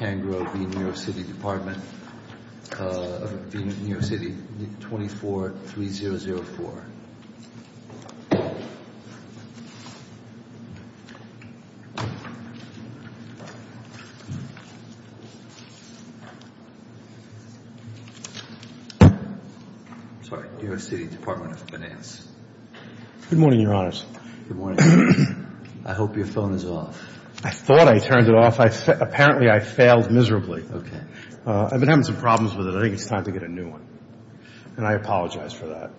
I hope your phone is off. I thought I turned it off. Apparently, I failed miserably. I've been having some problems with it. I think it's time to get a new one. And I apologize for that.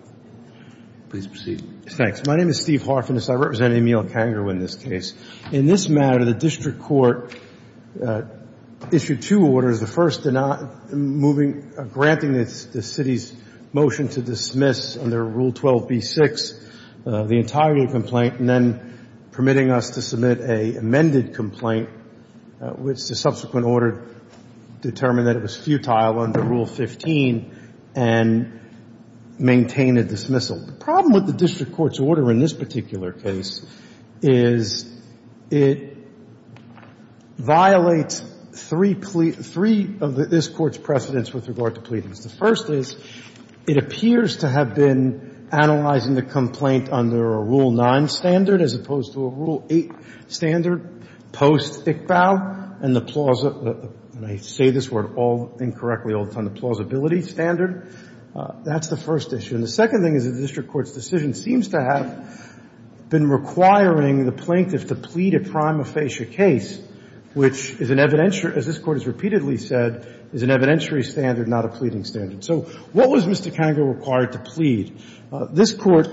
Please proceed. Thanks. My name is Steve Harfinis. I represent Emil Cangro in this case. In this matter, the district court issued two orders. The first granting the city's motion to dismiss under Rule 12b-6 the entirety of the complaint and then permitting us to submit an amended complaint. Which the subsequent order determined that it was futile under Rule 15 and maintained a dismissal. The problem with the district court's order in this particular case is it violates three of this court's precedents with regard to pleadings. The first is, it appears to have been analyzing the complaint under a Rule 9 standard as opposed to a Rule 8 standard post-Iqbal and the plausible — and I say this word all incorrectly all the time — the plausibility standard. That's the first issue. And the second thing is that the district court's decision seems to have been requiring the plaintiff to plead a prima facie case, which is an evidentiary — as this Court has repeatedly said — is an evidentiary standard, not a pleading standard. So what was Mr. Cangro required to plead? This Court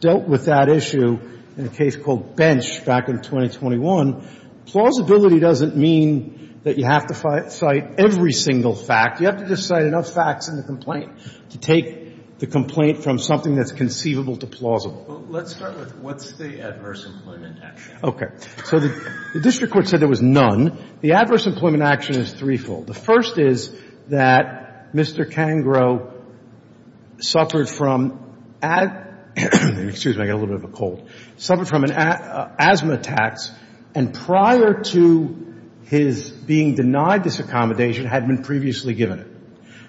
dealt with that issue in a case called Bench back in 2021. Plausibility doesn't mean that you have to cite every single fact. You have to just cite enough facts in the complaint to take the complaint from something that's conceivable to plausible. Let's start with what's the adverse employment action? Okay. So the district court said there was none. The adverse employment action is threefold. The first is that Mr. Cangro suffered from — excuse me, I got a little bit of a cold — suffered from an asthma attacks, and prior to his being denied this accommodation, had been previously given it.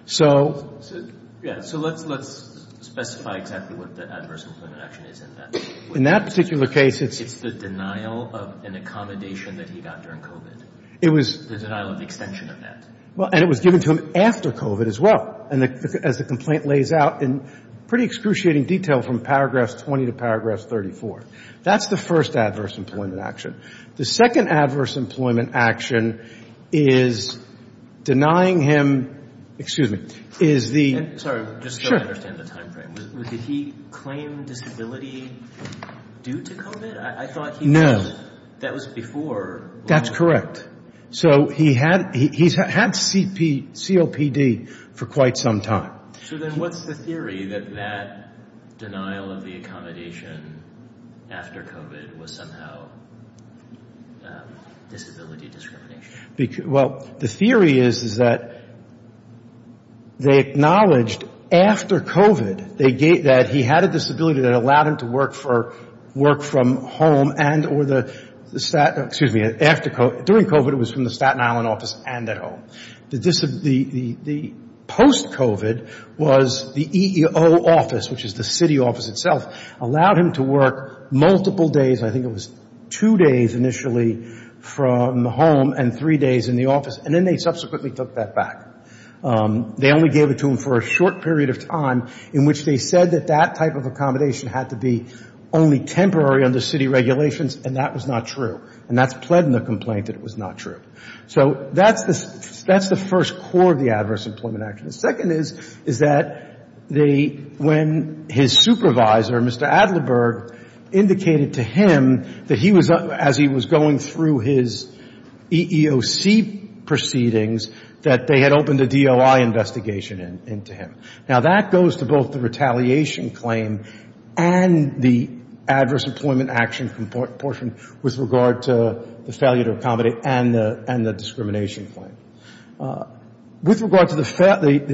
So — Yeah. So let's specify exactly what the adverse employment action is in that case. In that particular case, it's — It was — The denial of the extension of that. Well, and it was given to him after COVID as well, and as the complaint lays out in pretty excruciating detail from paragraphs 20 to paragraphs 34. That's the first adverse employment action. The second adverse employment action is denying him — excuse me — is the — Sorry, just so I understand the timeframe, did he claim disability due to COVID? I thought he — No. That was before. That's correct. So he had — he's had COPD for quite some time. So then what's the theory that that denial of the accommodation after COVID was somehow disability discrimination? Well, the theory is, is that they acknowledged after COVID that he had a disability that allowed him to work for — or the — excuse me — after COVID — during COVID, it was from the Staten Island office and at home. The post-COVID was the EEO office, which is the city office itself, allowed him to work multiple days. I think it was two days initially from home and three days in the office. And then they subsequently took that back. They only gave it to him for a short period of time in which they said that that type of accommodation had to be only temporary under city regulations. And that was not true. And that's pled in the complaint that it was not true. So that's the — that's the first core of the Adverse Employment Action. The second is, is that they — when his supervisor, Mr. Adlerberg, indicated to him that he was — as he was going through his EEOC proceedings, that they had opened a DOI investigation into him. Now, that goes to both the retaliation claim and the Adverse Employment Action portion with regard to the failure to accommodate and the discrimination claim. With regard to the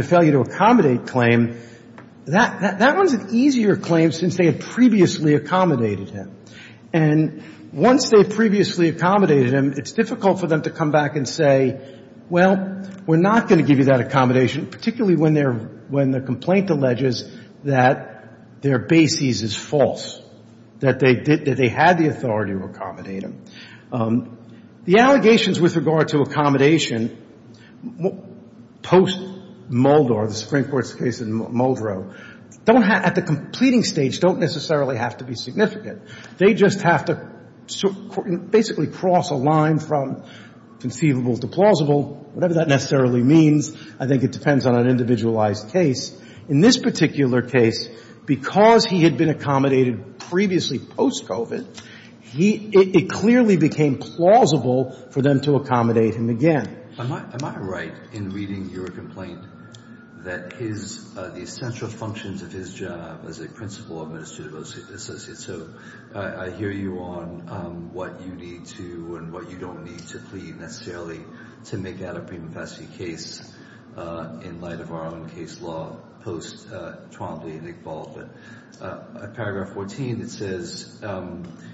failure to accommodate claim, that one's an easier claim since they had previously accommodated him. And once they had previously accommodated him, it's difficult for them to come back and say, well, we're not going to give you that accommodation, particularly when they're — when the complaint alleges that their basis is false, that they did — that they had the authority to accommodate him. The allegations with regard to accommodation post-Mulder, the Supreme Court's case in Muldrow, don't have — at the completing stage, don't necessarily have to be significant. They just have to basically cross a line from conceivable to plausible, whatever that necessarily means. I think it depends on an individualized case. In this particular case, because he had been accommodated previously post-COVID, he — it clearly became plausible for them to accommodate him again. Am I — am I right in reading your complaint that his — the essential functions of his job as a principal administrative associate, so I hear you on what you need to and what you don't need to plead necessarily to make that a prima facie case in light of our own case law post-Trombley and Iqbal, but paragraph 14, it says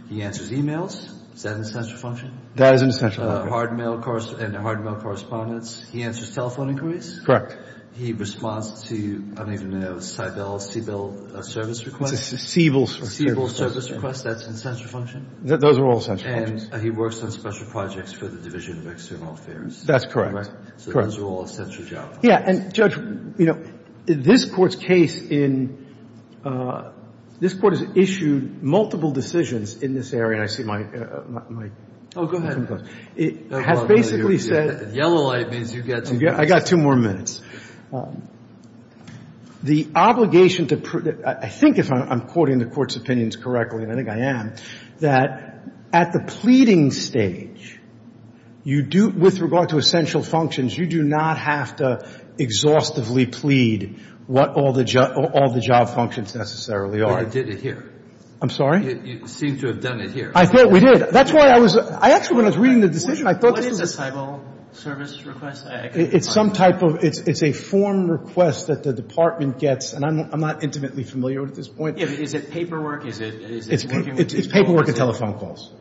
he answers e-mails. Is that an essential function? That is an essential function. Hard mail — and hard mail correspondence. He answers telephone inquiries? Correct. He responds to — I don't even know — Seibel — Seibel service requests? It's a Seibel service. Seibel service request, that's an essential function? Those are all essential functions. And he works on special projects for the Division of External Affairs. That's correct. Correct. So those are all essential job functions. Yeah. And, Judge, you know, this Court's case in — this Court has issued multiple decisions in this area. I see my — my — Oh, go ahead. It has basically said — Yellow light means you get to — I got two more minutes. The obligation to — I think if I'm quoting the Court's opinions correctly, and I think I am, that at the pleading stage, you do — with regard to essential functions, you do not have to exhaustively plead what all the job — all the job functions necessarily are. But you did it here. I'm sorry? You seem to have done it here. I thought we did. That's why I was — I actually, when I was reading the decision, I thought this was a — What is a Seibel service request? It's some type of — it's a form request that the Department gets. And I'm not intimately familiar with it at this point. Yeah, but is it paperwork? Is it — It's paperwork and telephone calls.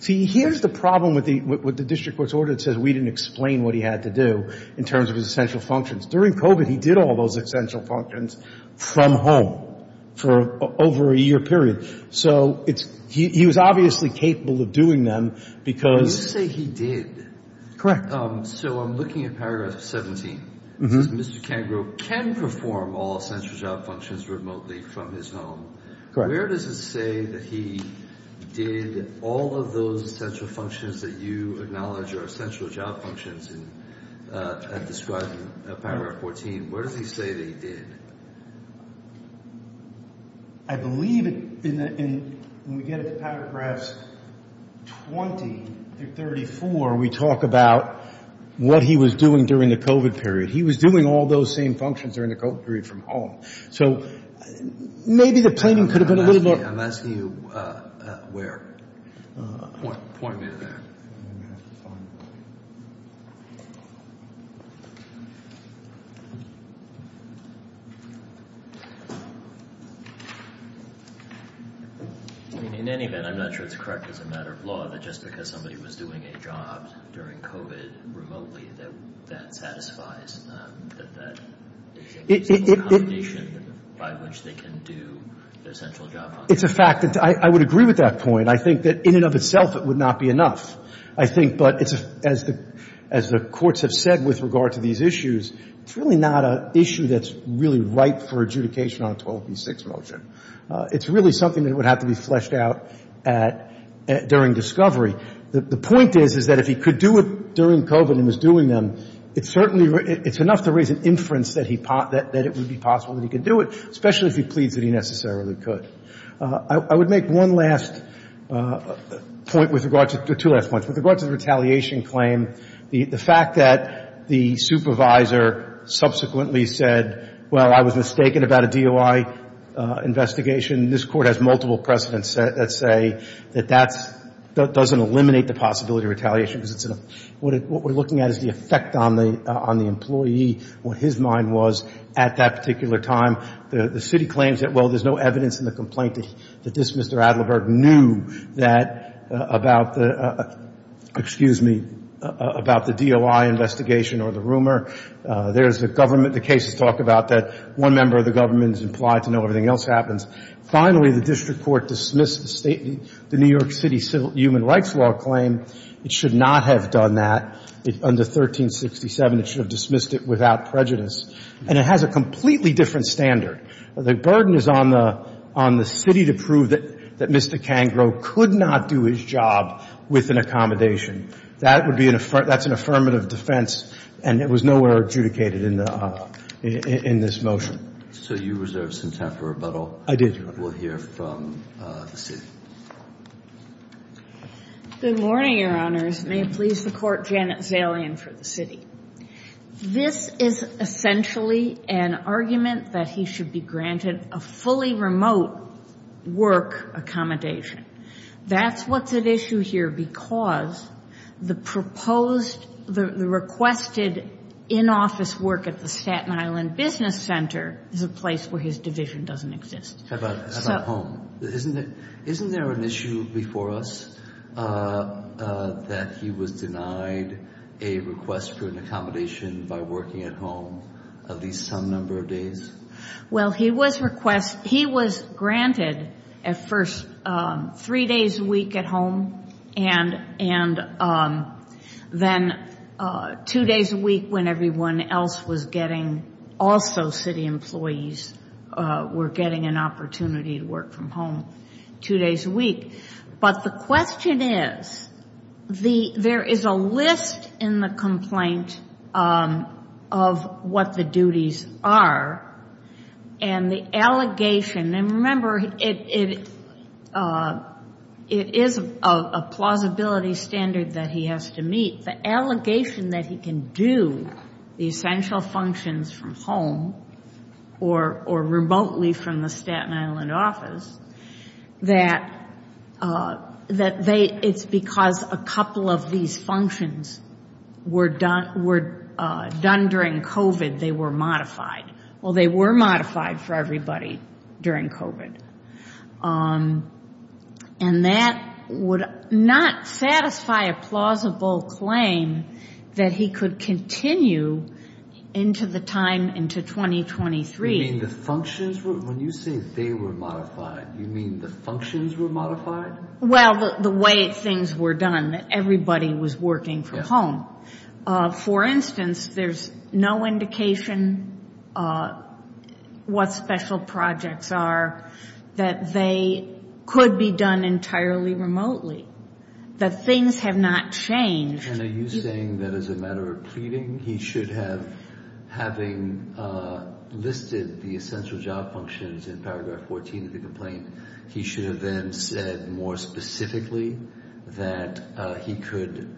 See, here's the problem with the — with the district court's order that says we didn't explain what he had to do in terms of his essential functions. During COVID, he did all those essential functions from home for over a year period. So it's — he was obviously capable of doing them because — You say he did. Correct. So I'm looking at paragraph 17. Mr. Kangaroo can perform all essential job functions remotely from his home. Where does it say that he did all of those essential functions that you acknowledge are essential job functions and describe in paragraph 14? Where does he say that he did? I believe in the — when we get into paragraph 20 through 34, we talk about what he was doing during the COVID period. He was doing all those same functions during the COVID period from home. So maybe the plaining could have been a little more — I'm asking you where. Point me to that. I mean, in any event, I'm not sure it's correct as a matter of law that just because somebody was doing a job during COVID remotely that that satisfies that that is a combination by which they can do their essential job functions. It's a fact that — I would agree with that point. I think that in and of itself, it would not be enough. I think — but it's — as the — as the courts have said with regard to these issues, it's really not an issue that's really ripe for adjudication on a 12b6 motion. It's really something that would have to be fleshed out at — during discovery. The point is, is that if he could do it during COVID and was doing them, it's certainly — it's enough to raise an inference that he — that it would be possible that he could do it, especially if he pleads that he necessarily could. I would make one last point with regard to — two last points. With regard to the retaliation claim, the fact that the supervisor subsequently said, well, I was mistaken about a DOI investigation, this Court has multiple precedents that say that that's — that doesn't eliminate the possibility of retaliation because it's an — what we're looking at is the effect on the employee, what his mind was at that particular time. The city claims that, well, there's no evidence in the complaint that this Mr. Adlerberg knew that — about the — excuse me, about the DOI investigation or the rumor. There's the government — the cases talk about that one member of the government is implied to know everything else happens. Finally, the district court dismissed the New York City human rights law claim. It should not have done that. Under 1367, it should have dismissed it without prejudice. And it has a completely different standard. The burden is on the — on the city to prove that — that Mr. Kangro could not do his job with an accommodation. That would be an — that's an affirmative defense, and it was nowhere adjudicated in the — in this motion. So you reserved some time for rebuttal. I did. We'll hear from the city. Good morning, Your Honors. May it please the Court, Janet Zalian for the city. This is essentially an argument that he should be granted a fully remote work accommodation. That's what's at issue here because the proposed — the requested in-office work at the Staten Island Business Center is a place where his division doesn't exist. How about — how about home? Isn't it — isn't there an issue before us that he was denied a request for an accommodation by working at home at least some number of days? Well, he was request — he was granted at first three days a week at home and — and then two days a week when everyone else was getting — also city employees were getting an opportunity to work from home two days a week. But the question is, the — there is a list in the complaint of what the duties are, and the allegation — and remember, it — it is a plausibility standard that he has to meet. The allegation that he can do the essential functions from home or — or remotely from the Staten Island office, that — that they — it's because a couple of these functions were done — were done during COVID. They were modified. Well, they were modified for everybody during COVID. And that would not satisfy a plausible claim that he could continue into the time — into 2023. You mean the functions were — when you say they were modified, you mean the functions were modified? Well, the way things were done, that everybody was working from home. For instance, there's no indication what special projects are, that they could be done entirely remotely, that things have not changed. And are you saying that as a matter of pleading, he should have — having listed the essential job functions in paragraph 14 of the complaint, he should have then said more specifically that he could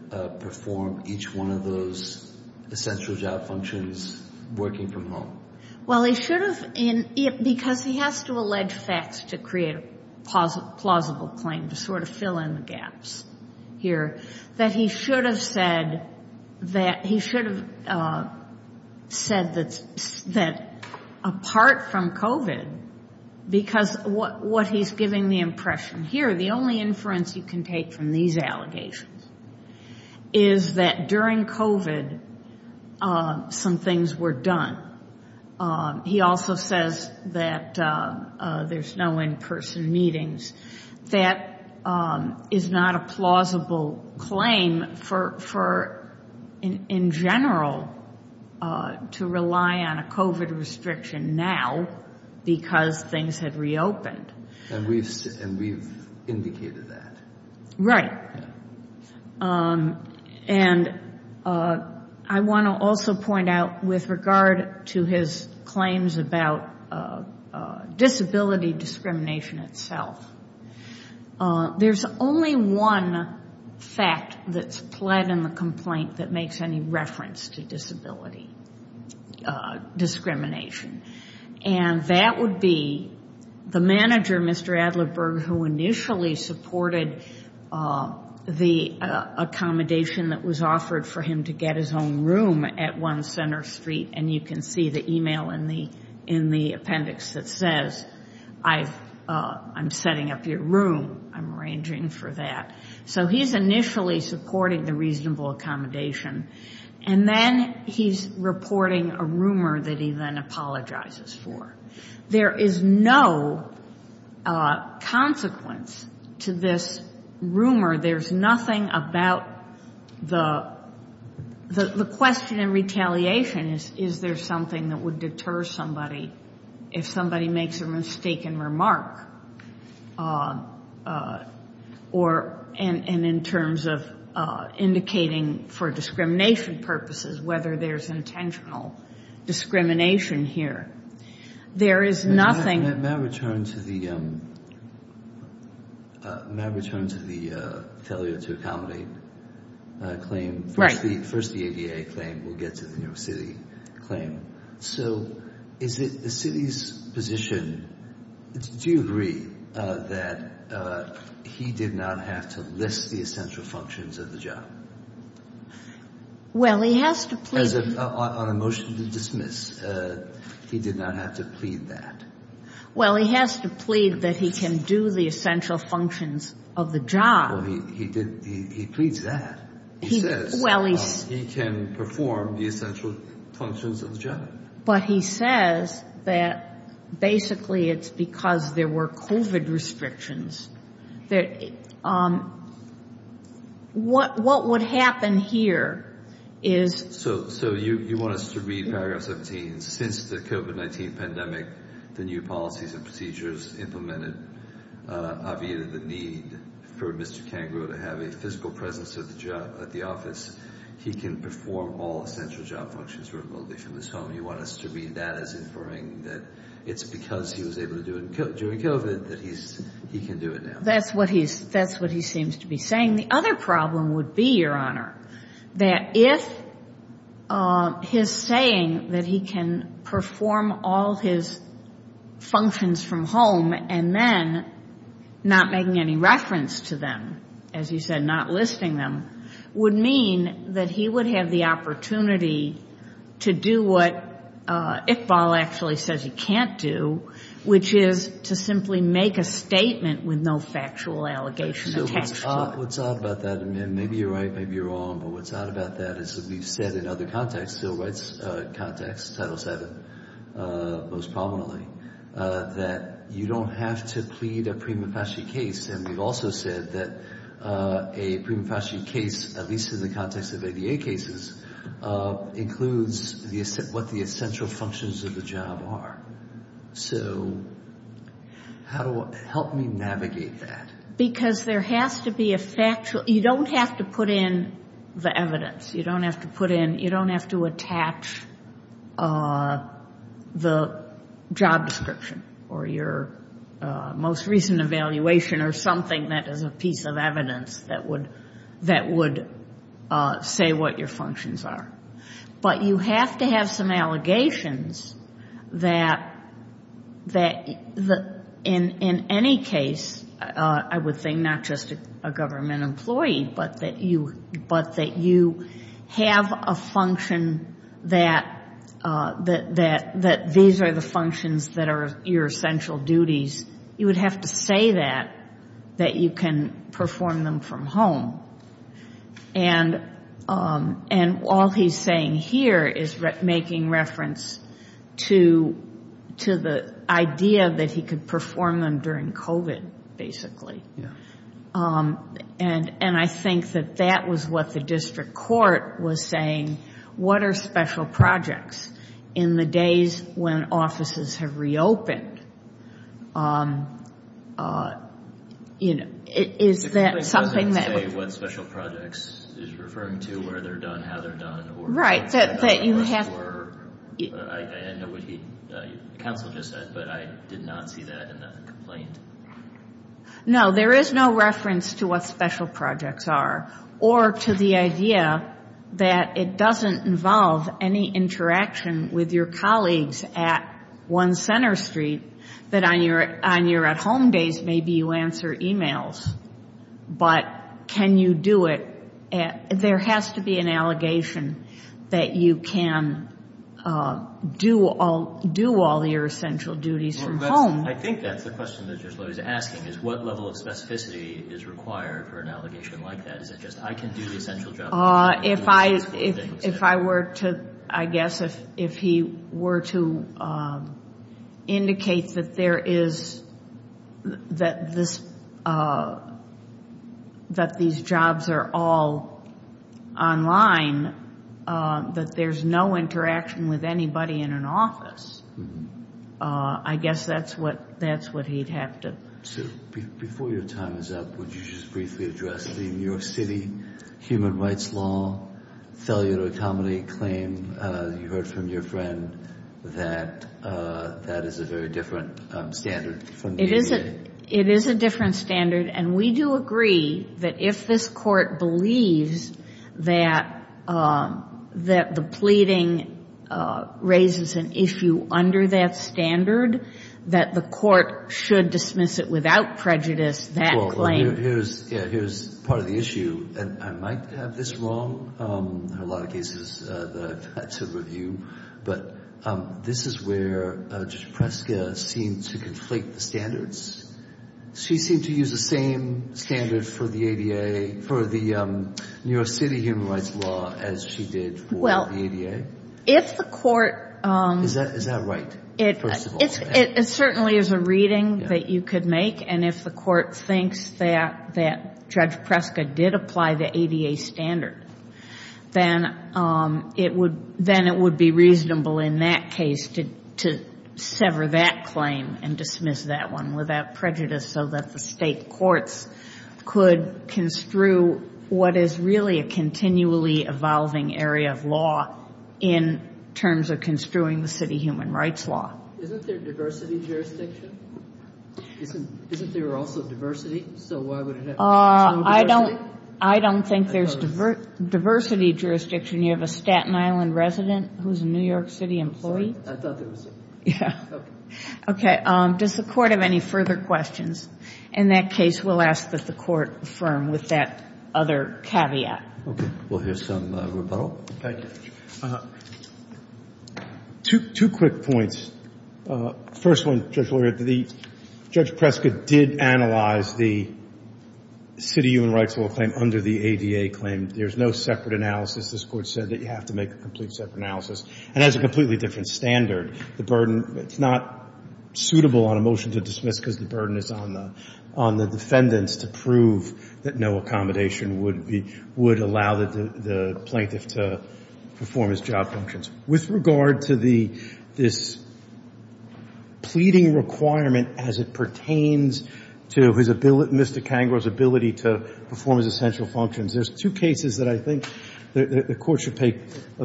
perform each one of those essential job functions working from home? Well, he should have — because he has to allege facts to create a plausible claim, to sort of fill in the gaps here, that he should have said that — he should have said that apart from COVID, because what he's giving the impression here, the only inference you can take from these allegations, is that during COVID, some things were done. He also says that there's no in-person meetings. That is not a plausible claim for, in general, to rely on a COVID restriction now, because things have reopened. And we've indicated that. Right. And I want to also point out, with regard to his claims about disability discrimination itself, there's only one fact that's pled in the complaint that makes any reference to disability discrimination. And that would be the manager, Mr. Adlerberg, who initially supported the accommodation that was offered for him to get his own room at 1 Center Street. And you can see the email in the appendix that says, I'm setting up your room. I'm arranging for that. So he's initially supporting the reasonable accommodation. And then he's reporting a rumor that he then apologizes for. There is no consequence to this rumor. There's nothing about the — the question in retaliation is, is there something that would deter somebody if somebody makes a mistaken remark? Or — and in terms of indicating for discrimination purposes, whether there's intentional discrimination here. There is nothing — May I return to the — may I return to the failure to accommodate claim? Right. First the ADA claim. We'll get to the New York City claim. So is it the city's position — do you agree that he did not have to list the essential functions of the job? Well, he has to plead — On a motion to dismiss. He did not have to plead that. Well, he has to plead that he can do the essential functions of the job. Well, he did — he pleads that. He says he can perform the essential functions of the job. But he says that basically it's because there were COVID restrictions that — What would happen here is — So you want us to read paragraph 17? Since the COVID-19 pandemic, the new policies and procedures implemented aviated the need for Mr. Kangaroo to have a physical presence at the office. He can perform all essential job functions remotely from his home. You want us to read that as inferring that it's because he was able to do it during COVID that he can do it now? That's what he seems to be saying. And the other problem would be, Your Honor, that if his saying that he can perform all his functions from home and then not making any reference to them, as you said, not listing them, would mean that he would have the opportunity to do what Iqbal actually says he can't do, which is to simply make a statement with no factual allegation attached to it. What's odd about that, and maybe you're right, maybe you're wrong, but what's odd about that is that we've said in other contexts, civil rights context, Title VII most prominently, that you don't have to plead a prima facie case. And we've also said that a prima facie case, at least in the context of ADA cases, includes what the essential functions of the job are. So help me navigate that. Because there has to be a factual, you don't have to put in the evidence. You don't have to attach the job description or your most recent evaluation or something that is a piece of evidence that would say what your functions are. But you have to have some allegations that in any case, I would think not just a government employee, but that you have a function that these are the functions that are your essential duties. You would have to say that, that you can perform them from home. And all he's saying here is making reference to the idea that he could perform them during COVID, basically. And I think that that was what the district court was saying. What are special projects in the days when offices have reopened? Is that something that... The complaint doesn't say what special projects. Is it referring to where they're done, how they're done? Right, that you have... I know what the counsel just said, but I did not see that in the complaint. No, there is no reference to what special projects are. Or to the idea that it doesn't involve any interaction with your colleagues at 1 Center Street that on your at-home days, maybe you answer emails. But can you do it? There has to be an allegation that you can do all your essential duties from home. I think that's the question that Judge Lowe is asking. Is what level of specificity is required for an allegation like that? Is it just, I can do the essential jobs? If I were to, I guess, if he were to indicate that there is, that these jobs are all online, that there's no interaction with anybody in an office, I guess that's what he'd have to... Before your time is up, would you just briefly address the New York City human rights law failure to accommodate claim? You heard from your friend that that is a very different standard. It is a different standard. And we do agree that if this court believes that the pleading raises an issue under that standard, that the court should dismiss it without prejudice, that claim... Here's part of the issue. And I might have this wrong in a lot of cases that I've had to review. But this is where Judge Preska seemed to conflate the standards. She seemed to use the same standard for the ADA, for the New York City human rights law, as she did for the ADA. If the court... Is that right, first of all? It certainly is a reading that you could make. And if the court thinks that Judge Preska did apply the ADA standard, then it would be reasonable in that case to sever that claim and dismiss that one without prejudice so that the state courts could construe what is really a continually evolving area of law in terms of construing the city human rights law. Isn't there diversity jurisdiction? Isn't there also diversity? So why would it have to be national diversity? I don't think there's diversity jurisdiction. You have a Staten Island resident who's a New York City employee. I thought there was... Yeah. Okay. Does the court have any further questions? In that case, we'll ask that the court affirm with that other caveat. Okay. We'll hear some rebuttal. Thank you. Two quick points. First one, Judge Lauderdale, Judge Preska did analyze the city human rights law claim under the ADA claim. There's no separate analysis. This court said that you have to make a complete separate analysis. And that's a completely different standard. The burden, it's not suitable on a motion to dismiss because the burden is on the defendants to prove that no accommodation would allow the plaintiff to perform his job functions. With regard to this pleading requirement as it pertains to Mr. Kangor's ability to perform his essential functions, there's two cases that I think the court should pay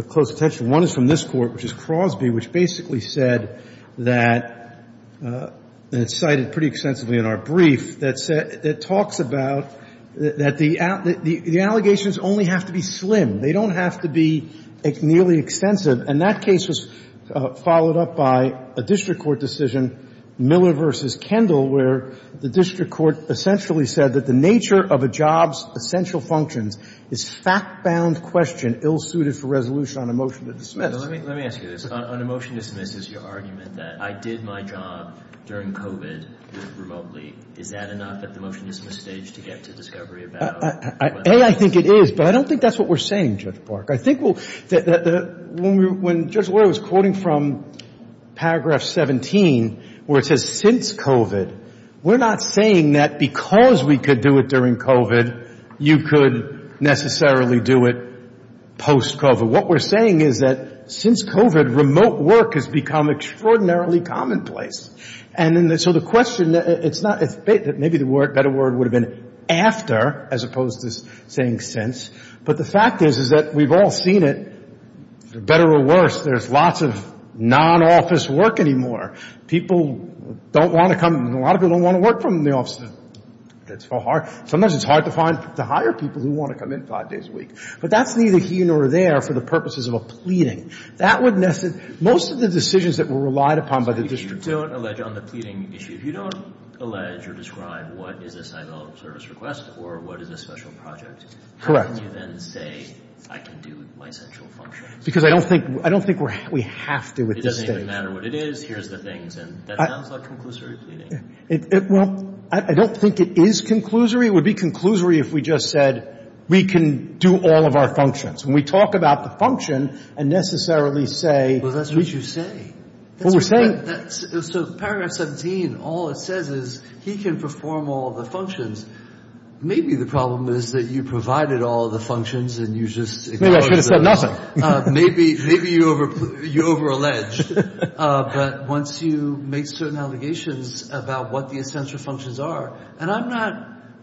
close attention. One is from this court, which is Crosby, which basically said that, and it's cited pretty extensively in our brief, that talks about that the allegations only have to be slim. They don't have to be nearly extensive. And that case was followed up by a district court decision, Miller v. Kendall, where the district court essentially said that the nature of a job's essential functions is fact-bound question ill-suited for resolution on a motion to dismiss. Let me ask you this. On a motion to dismiss, is your argument that I did my job during COVID remotely, is that enough at the motion to dismiss stage to get to discovery about whether or not I did my job during COVID remotely? Well, I think it is. But I don't think that's what we're saying, Judge Park. I think that when Judge Loy was quoting from paragraph 17 where it says, since COVID, we're not saying that because we could do it during COVID, you could necessarily do it post-COVID. What we're saying is that since COVID, remote work has become extraordinarily commonplace. And so the question, it's not that maybe the better word would have been after as opposed to saying since. But the fact is, is that we've all seen it, better or worse, there's lots of non-office work anymore. People don't want to come. A lot of people don't want to work from the office. Sometimes it's hard to hire people who want to come in five days a week. But that's neither here nor there for the purposes of a pleading. Most of the decisions that were relied upon by the district. So if you don't allege on the pleading issue, if you don't allege or describe what is a sign of service request or what is a special project, how can you then say I can do my central function? Because I don't think we have to at this stage. It doesn't even matter what it is. Here's the things. And that sounds like conclusory pleading. Well, I don't think it is conclusory. It would be conclusory if we just said we can do all of our functions. When we talk about the function and necessarily say. Well, that's what you say. Well, we're saying. So paragraph 17, all it says is he can perform all the functions. Maybe the problem is that you provided all the functions and you just. Maybe I should have said nothing. Maybe you over-alleged. But once you make certain allegations about what the essential functions are. And I'm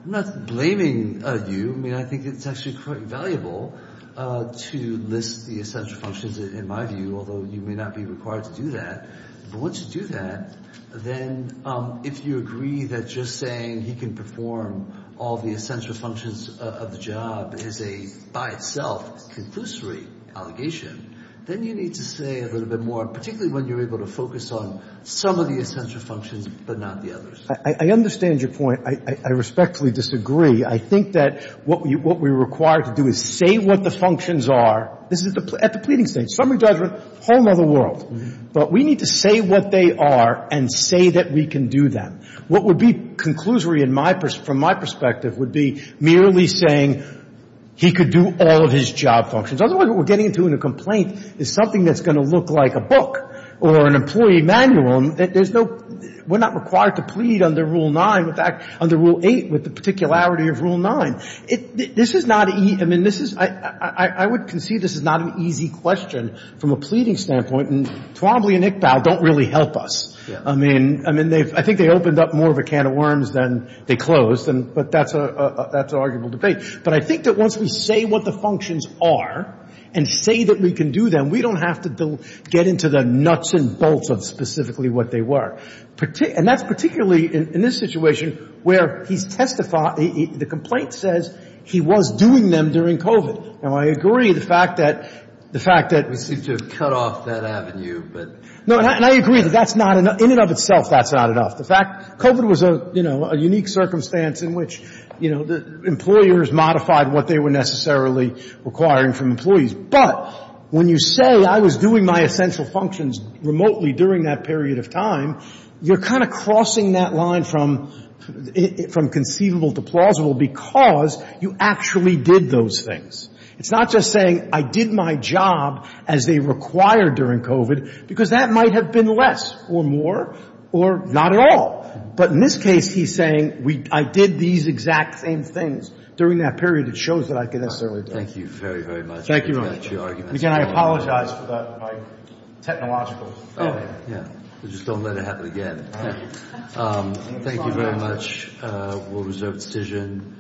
not blaming you. I mean, I think it's actually quite valuable. To list the essential functions, in my view, although you may not be required to do that. But once you do that, then if you agree that just saying he can perform all the essential functions of the job is a, by itself, conclusory allegation, then you need to say a little bit more, particularly when you're able to focus on some of the essential functions but not the others. I understand your point. I respectfully disagree. I think that what we're required to do is say what the functions are. This is at the pleading stage. Summary judgment, whole nother world. But we need to say what they are and say that we can do them. What would be conclusory from my perspective would be merely saying he could do all of his job functions. Otherwise, what we're getting into in a complaint is something that's going to look like a book or an employee manual. There's no — we're not required to plead under Rule 9. In fact, under Rule 8, with the particularity of Rule 9, this is not — I mean, this is — I would concede this is not an easy question from a pleading standpoint. And Twombly and Iqbal don't really help us. I mean, I think they opened up more of a can of worms than they closed. But that's an arguable debate. But I think that once we say what the functions are and say that we can do them, we don't have to get into the nuts and bolts of specifically what they were. And that's particularly in this situation where he's testified — the complaint says he was doing them during COVID. Now, I agree the fact that — the fact that — We seem to have cut off that avenue, but — No, and I agree that that's not enough. In and of itself, that's not enough. The fact — COVID was a, you know, a unique circumstance in which, you know, employers modified what they were necessarily requiring from employees. But when you say, I was doing my essential functions remotely during that period of time, you're kind of crossing that line from conceivable to plausible because you actually did those things. It's not just saying, I did my job as they required during COVID, because that might have been less or more or not at all. But in this case, he's saying, I did these exact same things during that period. It shows that I could necessarily do it. Thank you very, very much. Again, I apologize for my technological failure. Just don't let it happen again. Thank you very much. We'll reserve decision.